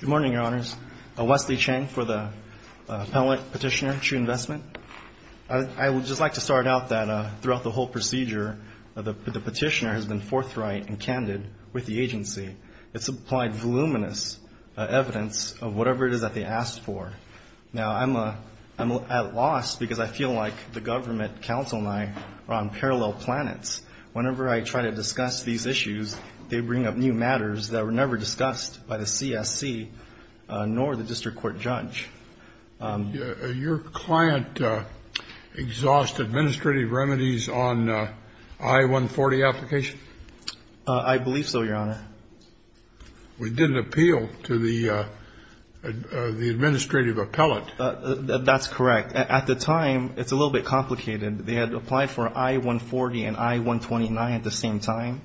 Good morning, your honors. I'm Wesley Cheng for the appellate petitioner, True Investment. I would just like to start out that throughout the whole procedure, the petitioner has been forthright and candid with the agency. It supplied voluminous evidence of whatever it is that they asked for. Now, I'm at loss because I feel like the government council and I are on parallel planets. Whenever I try to discuss these issues, they bring up new matters that were never discussed by the CSC nor the district court judge. Your client exhaust administrative remedies on I-140 application? I believe so, your honor. We didn't appeal to the administrative appellate. That's correct. At the time, it's a little bit complicated. They had to apply for I-140 and I-129 at the same time.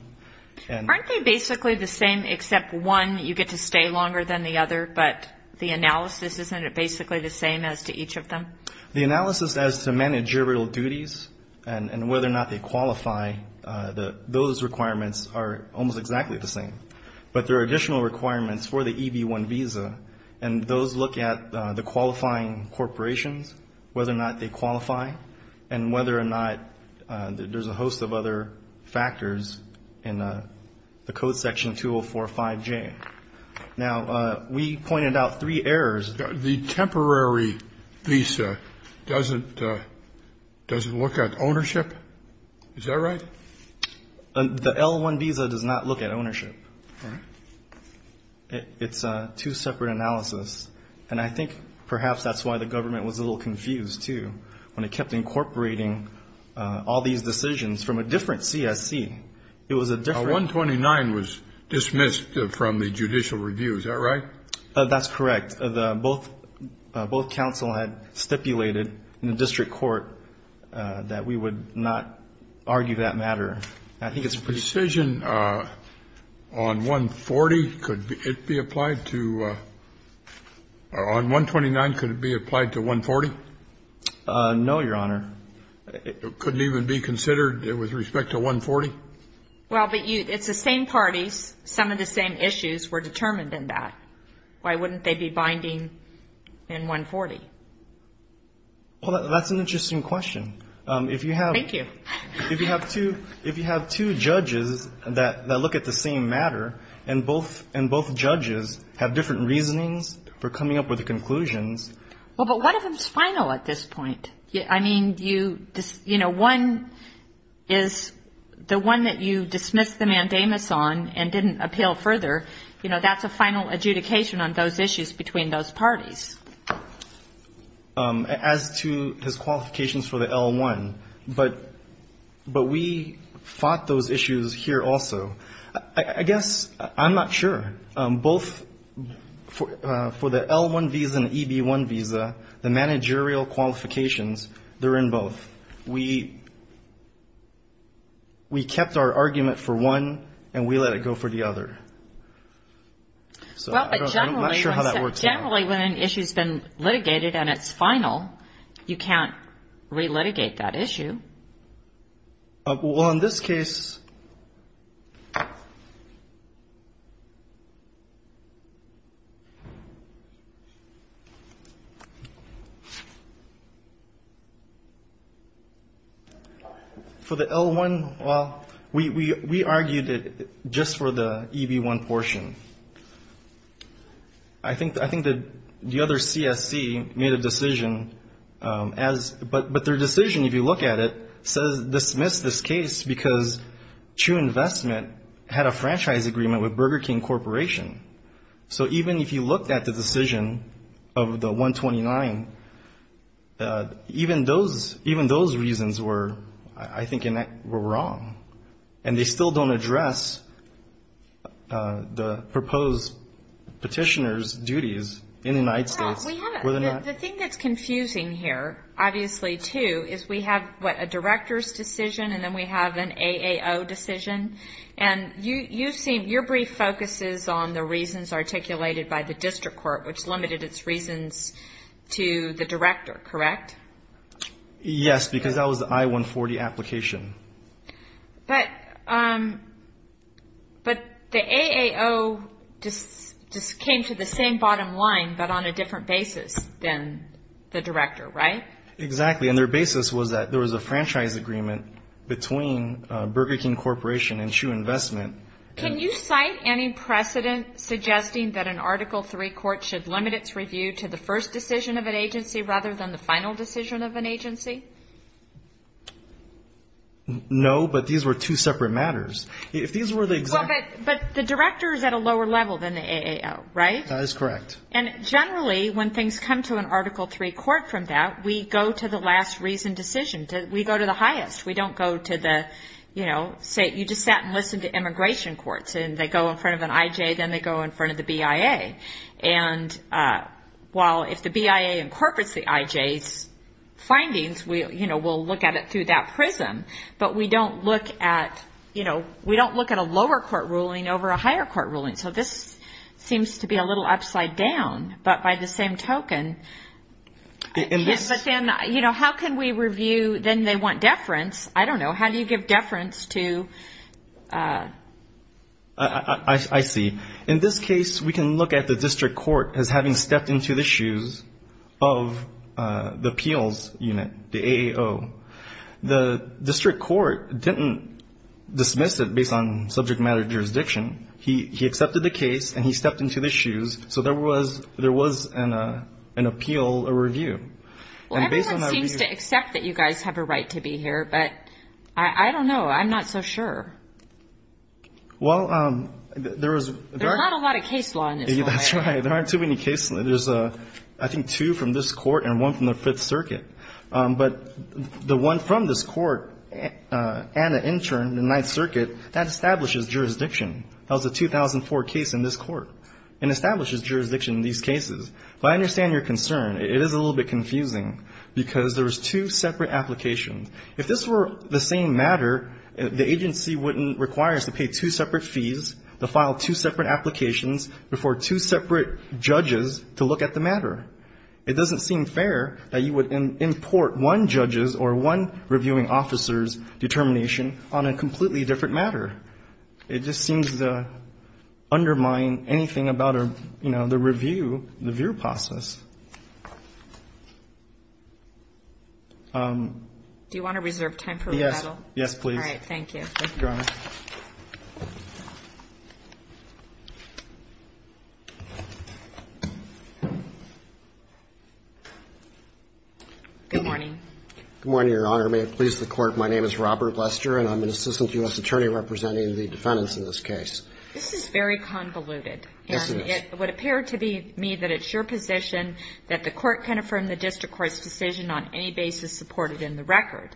Aren't they basically the same except one, you get to stay longer than the other, but the analysis, isn't it basically the same as to each of them? The analysis as to managerial duties and whether or not they qualify, those requirements are almost exactly the same. But there are additional requirements for the EB-1 visa, and those look at the qualifying corporations, whether or not they qualify, and whether or not there's a host of other factors in the code section 2045-J. Now, we pointed out three errors. The temporary visa doesn't look at ownership. Is that right? The L-1 visa does not look at ownership. It's a two-separate analysis, and I think perhaps that's why the government was a little confused, too, when it kept incorporating all these decisions from a different CSC. It was a different one. The 129 was dismissed from the judicial review. Is that right? That's correct. Both counsel had stipulated in the district court that we would not argue that matter. The decision on 140, could it be applied to or on 129, could it be applied to 140? No, Your Honor. Could it even be considered with respect to 140? Well, but it's the same parties. Some of the same issues were determined in that. Why wouldn't they be binding in 140? Well, that's an interesting question. If you have. Thank you. If you have two judges that look at the same matter and both judges have different reasonings for coming up with the conclusions. Well, but one of them is final at this point. I mean, you know, one is the one that you dismissed the mandamus on and didn't appeal further. You know, that's a final adjudication on those issues between those parties. As to his qualifications for the L-1. But we fought those issues here also. I guess I'm not sure. Both for the L-1 visa and the EB-1 visa, the managerial qualifications, they're in both. We kept our argument for one and we let it go for the other. I'm not sure how that works out. Normally when an issue has been litigated and it's final, you can't re-litigate that issue. Well, in this case. For the L-1, well, we argued it just for the EB-1 portion. I think the other CSC made a decision, but their decision, if you look at it, says dismiss this case because True Investment had a franchise agreement with Burger King Corporation. So even if you looked at the decision of the 129, even those reasons were, I think, were wrong. And they still don't address the proposed petitioner's duties in the United States. The thing that's confusing here, obviously, too, is we have, what, a director's decision and then we have an AAO decision. And your brief focuses on the reasons articulated by the district court, which limited its reasons to the director, correct? Yes, because that was the I-140 application. But the AAO just came to the same bottom line but on a different basis than the director, right? Exactly. And their basis was that there was a franchise agreement between Burger King Corporation and True Investment. Can you cite any precedent suggesting that an Article III court should limit its review to the first decision of an agency rather than the final decision of an agency? No, but these were two separate matters. But the director is at a lower level than the AAO, right? That is correct. And generally, when things come to an Article III court from that, we go to the last reason decision. We go to the highest. We don't go to the, you know, you just sat and listened to immigration courts and they go in front of an IJ, then they go in front of the BIA. And while if the BIA incorporates the IJ's findings, you know, we'll look at it through that prism. But we don't look at, you know, we don't look at a lower court ruling over a higher court ruling. So this seems to be a little upside down. But by the same token, but then, you know, how can we review? Then they want deference. I don't know. How do you give deference to? I see. In this case, we can look at the district court as having stepped into the shoes of the appeals unit, the AAO. The district court didn't dismiss it based on subject matter jurisdiction. He accepted the case and he stepped into the shoes. So there was an appeal, a review. Well, everyone seems to accept that you guys have a right to be here, but I don't know. I'm not so sure. Well, there was very --. There's not a lot of case law in this case. That's right. There aren't too many cases. There's, I think, two from this Court and one from the Fifth Circuit. But the one from this Court and the intern in the Ninth Circuit, that establishes jurisdiction. That was a 2004 case in this Court. It establishes jurisdiction in these cases. But I understand your concern. It is a little bit confusing because there was two separate applications. If this were the same matter, the agency wouldn't require us to pay two separate fees, to file two separate applications before two separate judges to look at the matter. It doesn't seem fair that you would import one judge's or one reviewing officer's determination on a completely different matter. It just seems to undermine anything about, you know, the review, the review process. Do you want to reserve time for rebuttal? Yes. Yes, please. Thank you. Thank you, Your Honor. Good morning. Good morning, Your Honor. May it please the Court, my name is Robert Lester, and I'm an assistant U.S. This is very convoluted. Yes, it is. It would appear to me that it's your position that the Court can affirm the district court's decision on any basis supported in the record.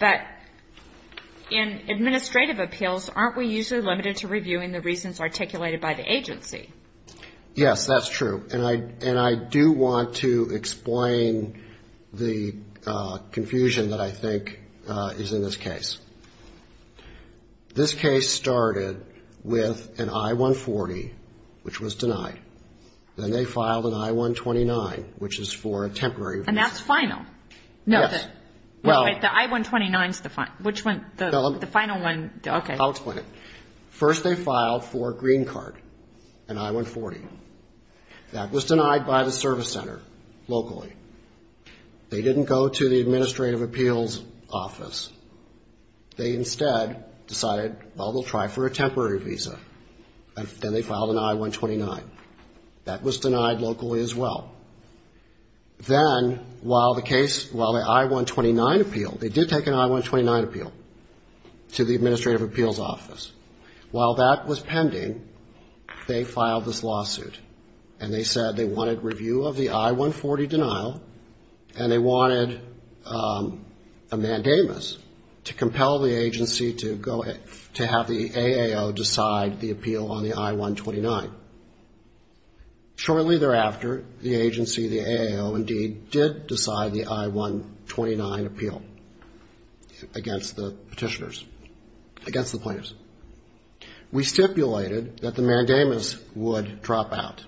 But in administrative appeals, aren't we usually limited to reviewing the reasons articulated by the agency? Yes, that's true. And I do want to explain the confusion that I think is in this case. This case started with an I-140, which was denied. Then they filed an I-129, which is for a temporary review. And that's final? Yes. No, the I-129 is the final. Which one? The final one. Okay. I'll explain it. First they filed for a green card, an I-140. That was denied by the service center locally. They didn't go to the administrative appeals office. They instead decided, well, they'll try for a temporary visa. And then they filed an I-129. That was denied locally as well. Then while the case, while the I-129 appeal, they did take an I-129 appeal to the administrative appeals office. While that was pending, they filed this lawsuit. And they said they wanted review of the I-140 denial, and they wanted a mandamus to compel the agency to have the AAO decide the appeal on the I-129. Shortly thereafter, the agency, the AAO indeed, did decide the I-129 appeal against the petitioners, against the plaintiffs. We stipulated that the mandamus would drop out.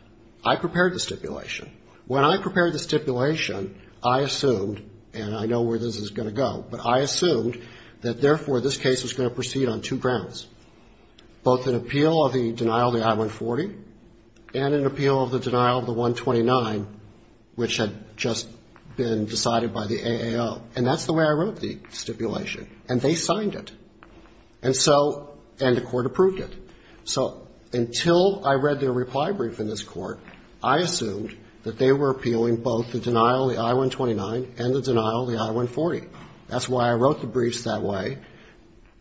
I prepared the stipulation. When I prepared the stipulation, I assumed, and I know where this is going to go, but I assumed that, therefore, this case was going to proceed on two grounds, both an appeal of the denial of the I-140 and an appeal of the denial of the I-129, which had just been decided by the AAO. And that's the way I wrote the stipulation. And they signed it. And so, and the court approved it. So until I read their reply brief in this court, I assumed that they were appealing both the denial of the I-129 and the denial of the I-140. That's why I wrote the briefs that way,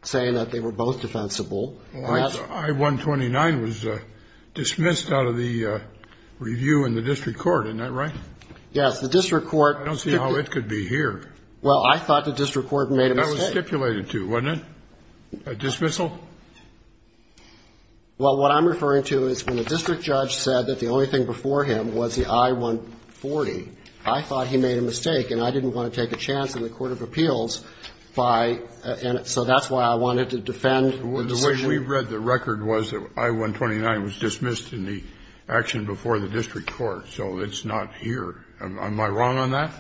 saying that they were both defensible. And that's why the I-129 was dismissed out of the review in the district court. Isn't that right? Yes. The district court. I don't see how it could be here. Well, I thought the district court made a mistake. That was stipulated to, wasn't it, a dismissal? Well, what I'm referring to is when the district judge said that the only thing before him was the I-140, I thought he made a mistake. And I didn't want to take a chance in the court of appeals by, and so that's why I wanted to defend the decision. The way we read the record was that I-129 was dismissed in the action before the district court. So it's not here. Am I wrong on that?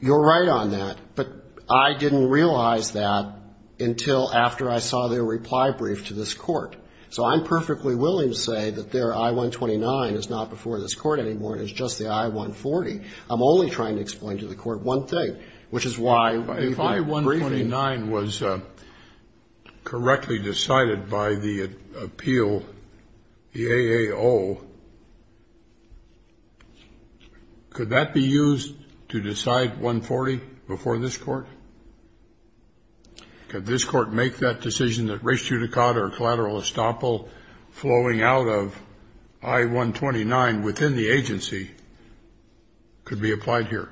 You're right on that. But I didn't realize that until after I saw their reply brief to this court. So I'm perfectly willing to say that their I-129 is not before this court anymore and is just the I-140. I'm only trying to explain to the court one thing, which is why we did the briefing. If I-129 was correctly decided by the appeal, the AAO, could that be used to decide 140 before this court? Could this court make that decision that res judicata or collateral estoppel flowing out of I-129 within the agency could be applied here?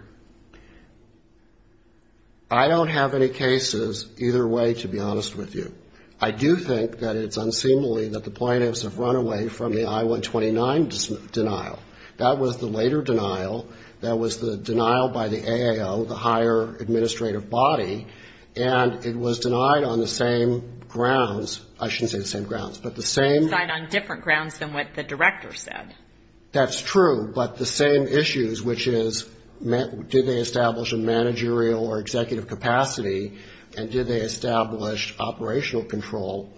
I don't have any cases either way, to be honest with you. I do think that it's unseemly that the plaintiffs have run away from the I-129 denial. That was the later denial. That was the denial by the AAO, the higher administrative body, and it was denied on the same grounds. I shouldn't say the same grounds, but the same. It was denied on different grounds than what the director said. That's true, but the same issues, which is did they establish a managerial or executive capacity, and did they establish operational control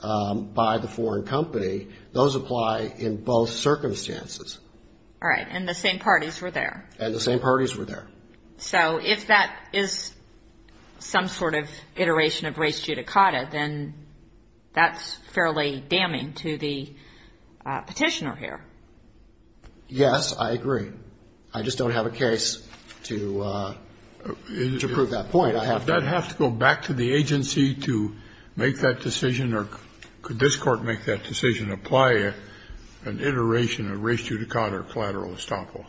by the foreign company, those apply in both circumstances. All right. And the same parties were there. And the same parties were there. So if that is some sort of iteration of res judicata, then that's fairly damning to the Petitioner here. Yes, I agree. I just don't have a case to prove that point. I have not. Does that have to go back to the agency to make that decision, or could this court make that decision, apply an iteration of res judicata or collateral estoppel?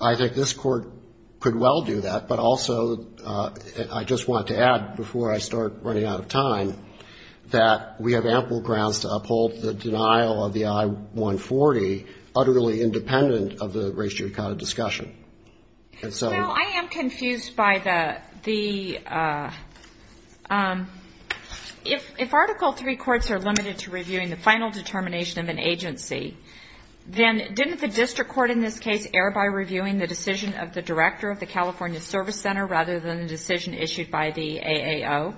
I think this court could well do that, but also I just want to add, before I start running out of time, that we have ample grounds to uphold the denial of the I-140 utterly independent of the res judicata discussion. Now, I am confused by the ‑‑ if Article III courts are limited to reviewing the final determination of an agency, then didn't the district court in this case err by reviewing the decision of the director of the California Service Center rather than the decision issued by the AAO?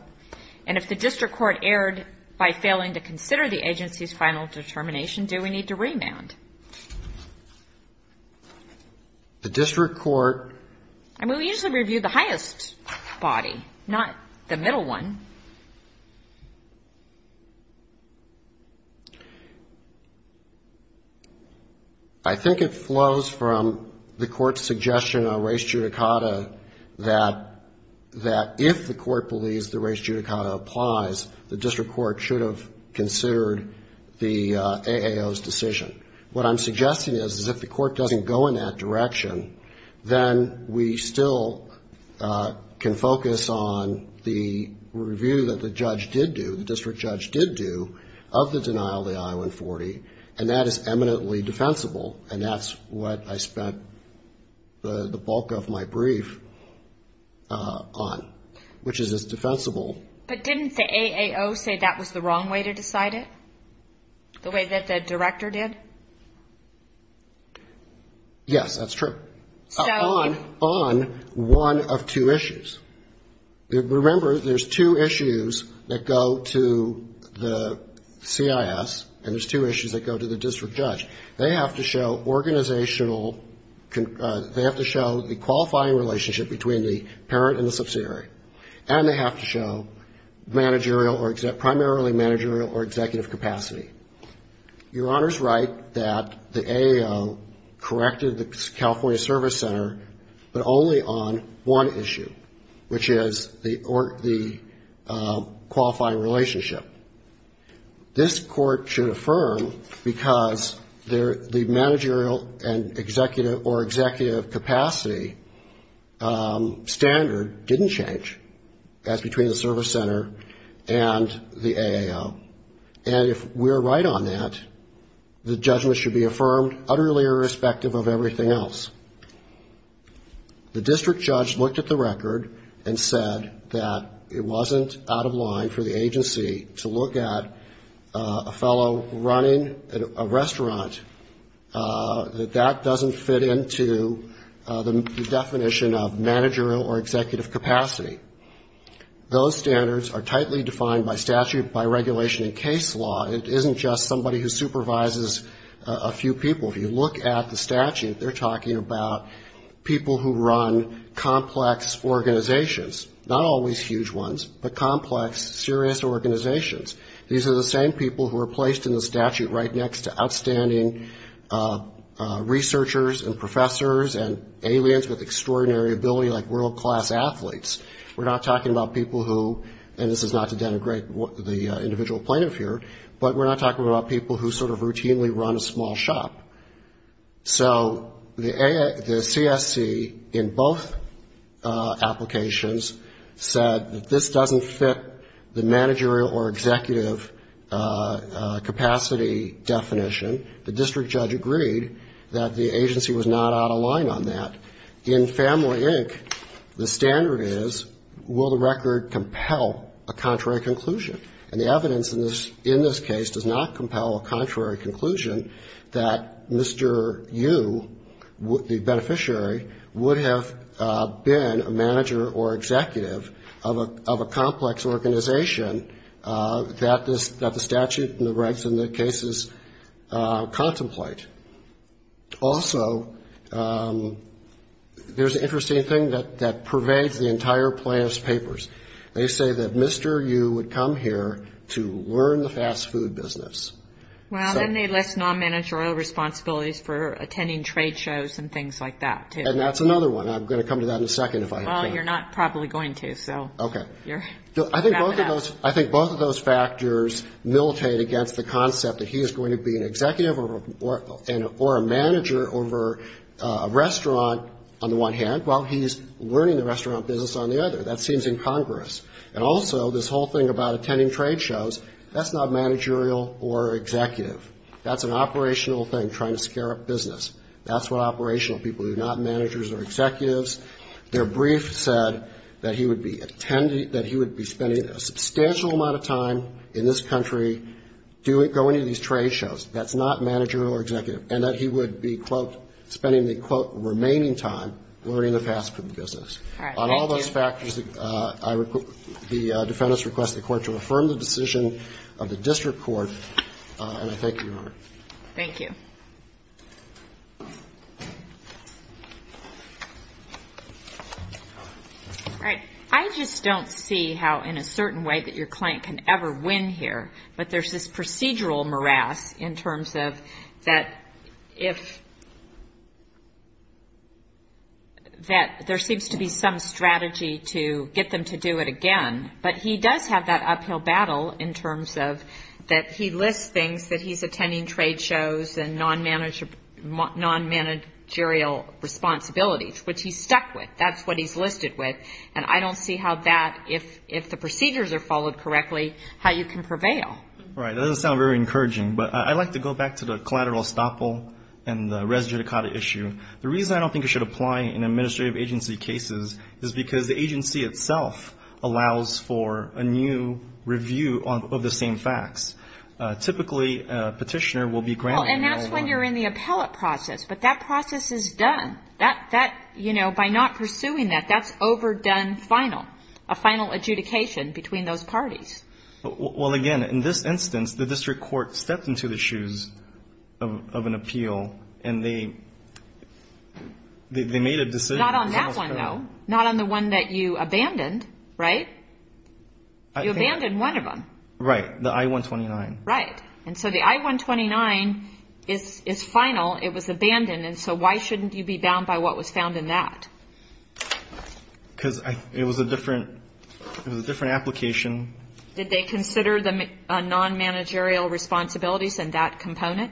And if the district court erred by failing to consider the agency's final determination, do we need to remand? The district court ‑‑ I mean, we usually review the highest body, not the middle one. I think it flows from the court's suggestion of res judicata that if the court believes the res judicata applies, the district court should have considered the AAO's decision. What I'm suggesting is if the court doesn't go in that direction, then we still can focus on the review that the judge did do, the district judge did do of the denial of the I-140, and that is eminently defensible, and that's what I spent the bulk of my brief on, which is it's defensible. But didn't the AAO say that was the wrong way to decide it? The way that the director did? Yes, that's true. On one of two issues. Remember, there's two issues that go to the CIS, and there's two issues that go to the district judge. They have to show organizational ‑‑ they have to show the managerial or ‑‑ primarily managerial or executive capacity. Your Honor's right that the AAO corrected the California Service Center, but only on one issue, which is the qualifying relationship. This court should affirm because the managerial and executive or executive capacity standard didn't change. That's between the California Service Center and the AAO. And if we're right on that, the judgment should be affirmed utterly irrespective of everything else. The district judge looked at the record and said that it wasn't out of line for the agency to look at a fellow running a restaurant, that that doesn't fit into the definition of managerial or executive capacity standard. If you look at the statute, they're talking about people who run complex organizations, not always huge ones, but complex, serious organizations. These are the same people who are placed in the statute right next to outstanding researchers and professors and aliens with extraordinary ability like world-class athletes. We're not talking about people who ‑‑ and this is not to denigrate the individual plaintiff here, but we're not talking about people who sort of routinely run a small shop. So the CSC in both applications said that this doesn't fit the managerial or executive capacity definition. The district judge agreed that the agency was not out of line on that. In Family Inc., the standard is will the record compel a contrary conclusion? And the evidence in this case does not compel a contrary conclusion that Mr. Yu, the beneficiary, would have been a manager or executive of a complex organization that the statute and the rights and the cases contemplate. Also, there's an interesting thing that pervades the entire plaintiff's papers. They say that Mr. Yu would come here to learn the fast food business. And that's another one. I'm going to come to that in a second, if I can. I think both of those factors militate against the concept that he is going to be an executive or executive of a business, or a manager over a restaurant, on the one hand, while he's learning the restaurant business on the other. That seems incongruous. And also, this whole thing about attending trade shows, that's not managerial or executive. That's an operational thing, trying to scare up business. That's what operational people do, not managers or executives. Their brief said that he would be spending a substantial amount of time in this country going to these trade shows. That's not managerial or executive. And that he would be, quote, spending the, quote, remaining time learning the fast food business. On all those factors, the defendants request the court to affirm the decision of the district court, and I thank you, Your Honor. Thank you. All right. I just don't see how, in a certain way, that your client can ever win here. But there's this procedural morass in terms of that if, that there seems to be some strategy to get them to do it again. But he does have that uphill battle in terms of that he lists things that he's attending trade shows and non-managerial responsibilities, which he's stuck with. That's what he's listed with. And I don't see how that, if the procedures are followed correctly, how you can prevail. Right. That doesn't sound very encouraging. But I'd like to go back to the collateral estoppel and the res judicata issue. The reason I don't think it should apply in administrative agency cases is because the agency itself allows for a new review of the same facts. Typically, a petitioner will be granted. And that's when you're in the appellate process. But that process is done. Final, a final adjudication between those parties. Well, again, in this instance, the district court stepped into the shoes of an appeal and they made a decision. Not on that one, though. Not on the one that you abandoned, right? You abandoned one of them. Right. The I-129. Right. And so the I-129 is final. It was abandoned. And so why shouldn't you be bound by what was found in that? It was a different, it was a different application. Did they consider the non-managerial responsibilities in that component?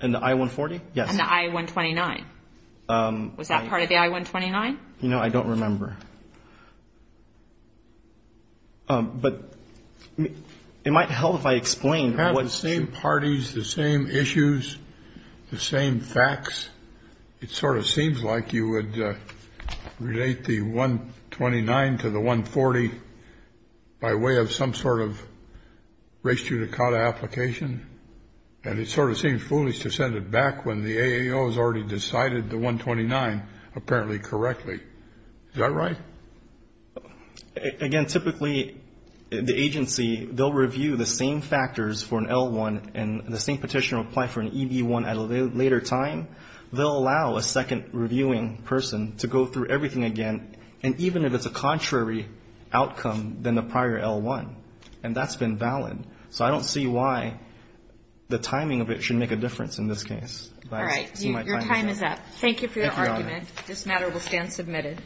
In the I-140? Yes. And the I-129? Was that part of the I-129? No, I don't remember. But it might help if I explain. You have the same parties, the same issues, the same facts. It sort of seems like you would relate the I-129 to the I-140 by way of some sort of race judicata application. And it sort of seems foolish to send it back when the AAO has already decided the I-129 apparently correctly. Is that right? No, I don't think that's the case. I think that's the case. All right. Your time is up. Thank you for your argument. This matter will stand submitted.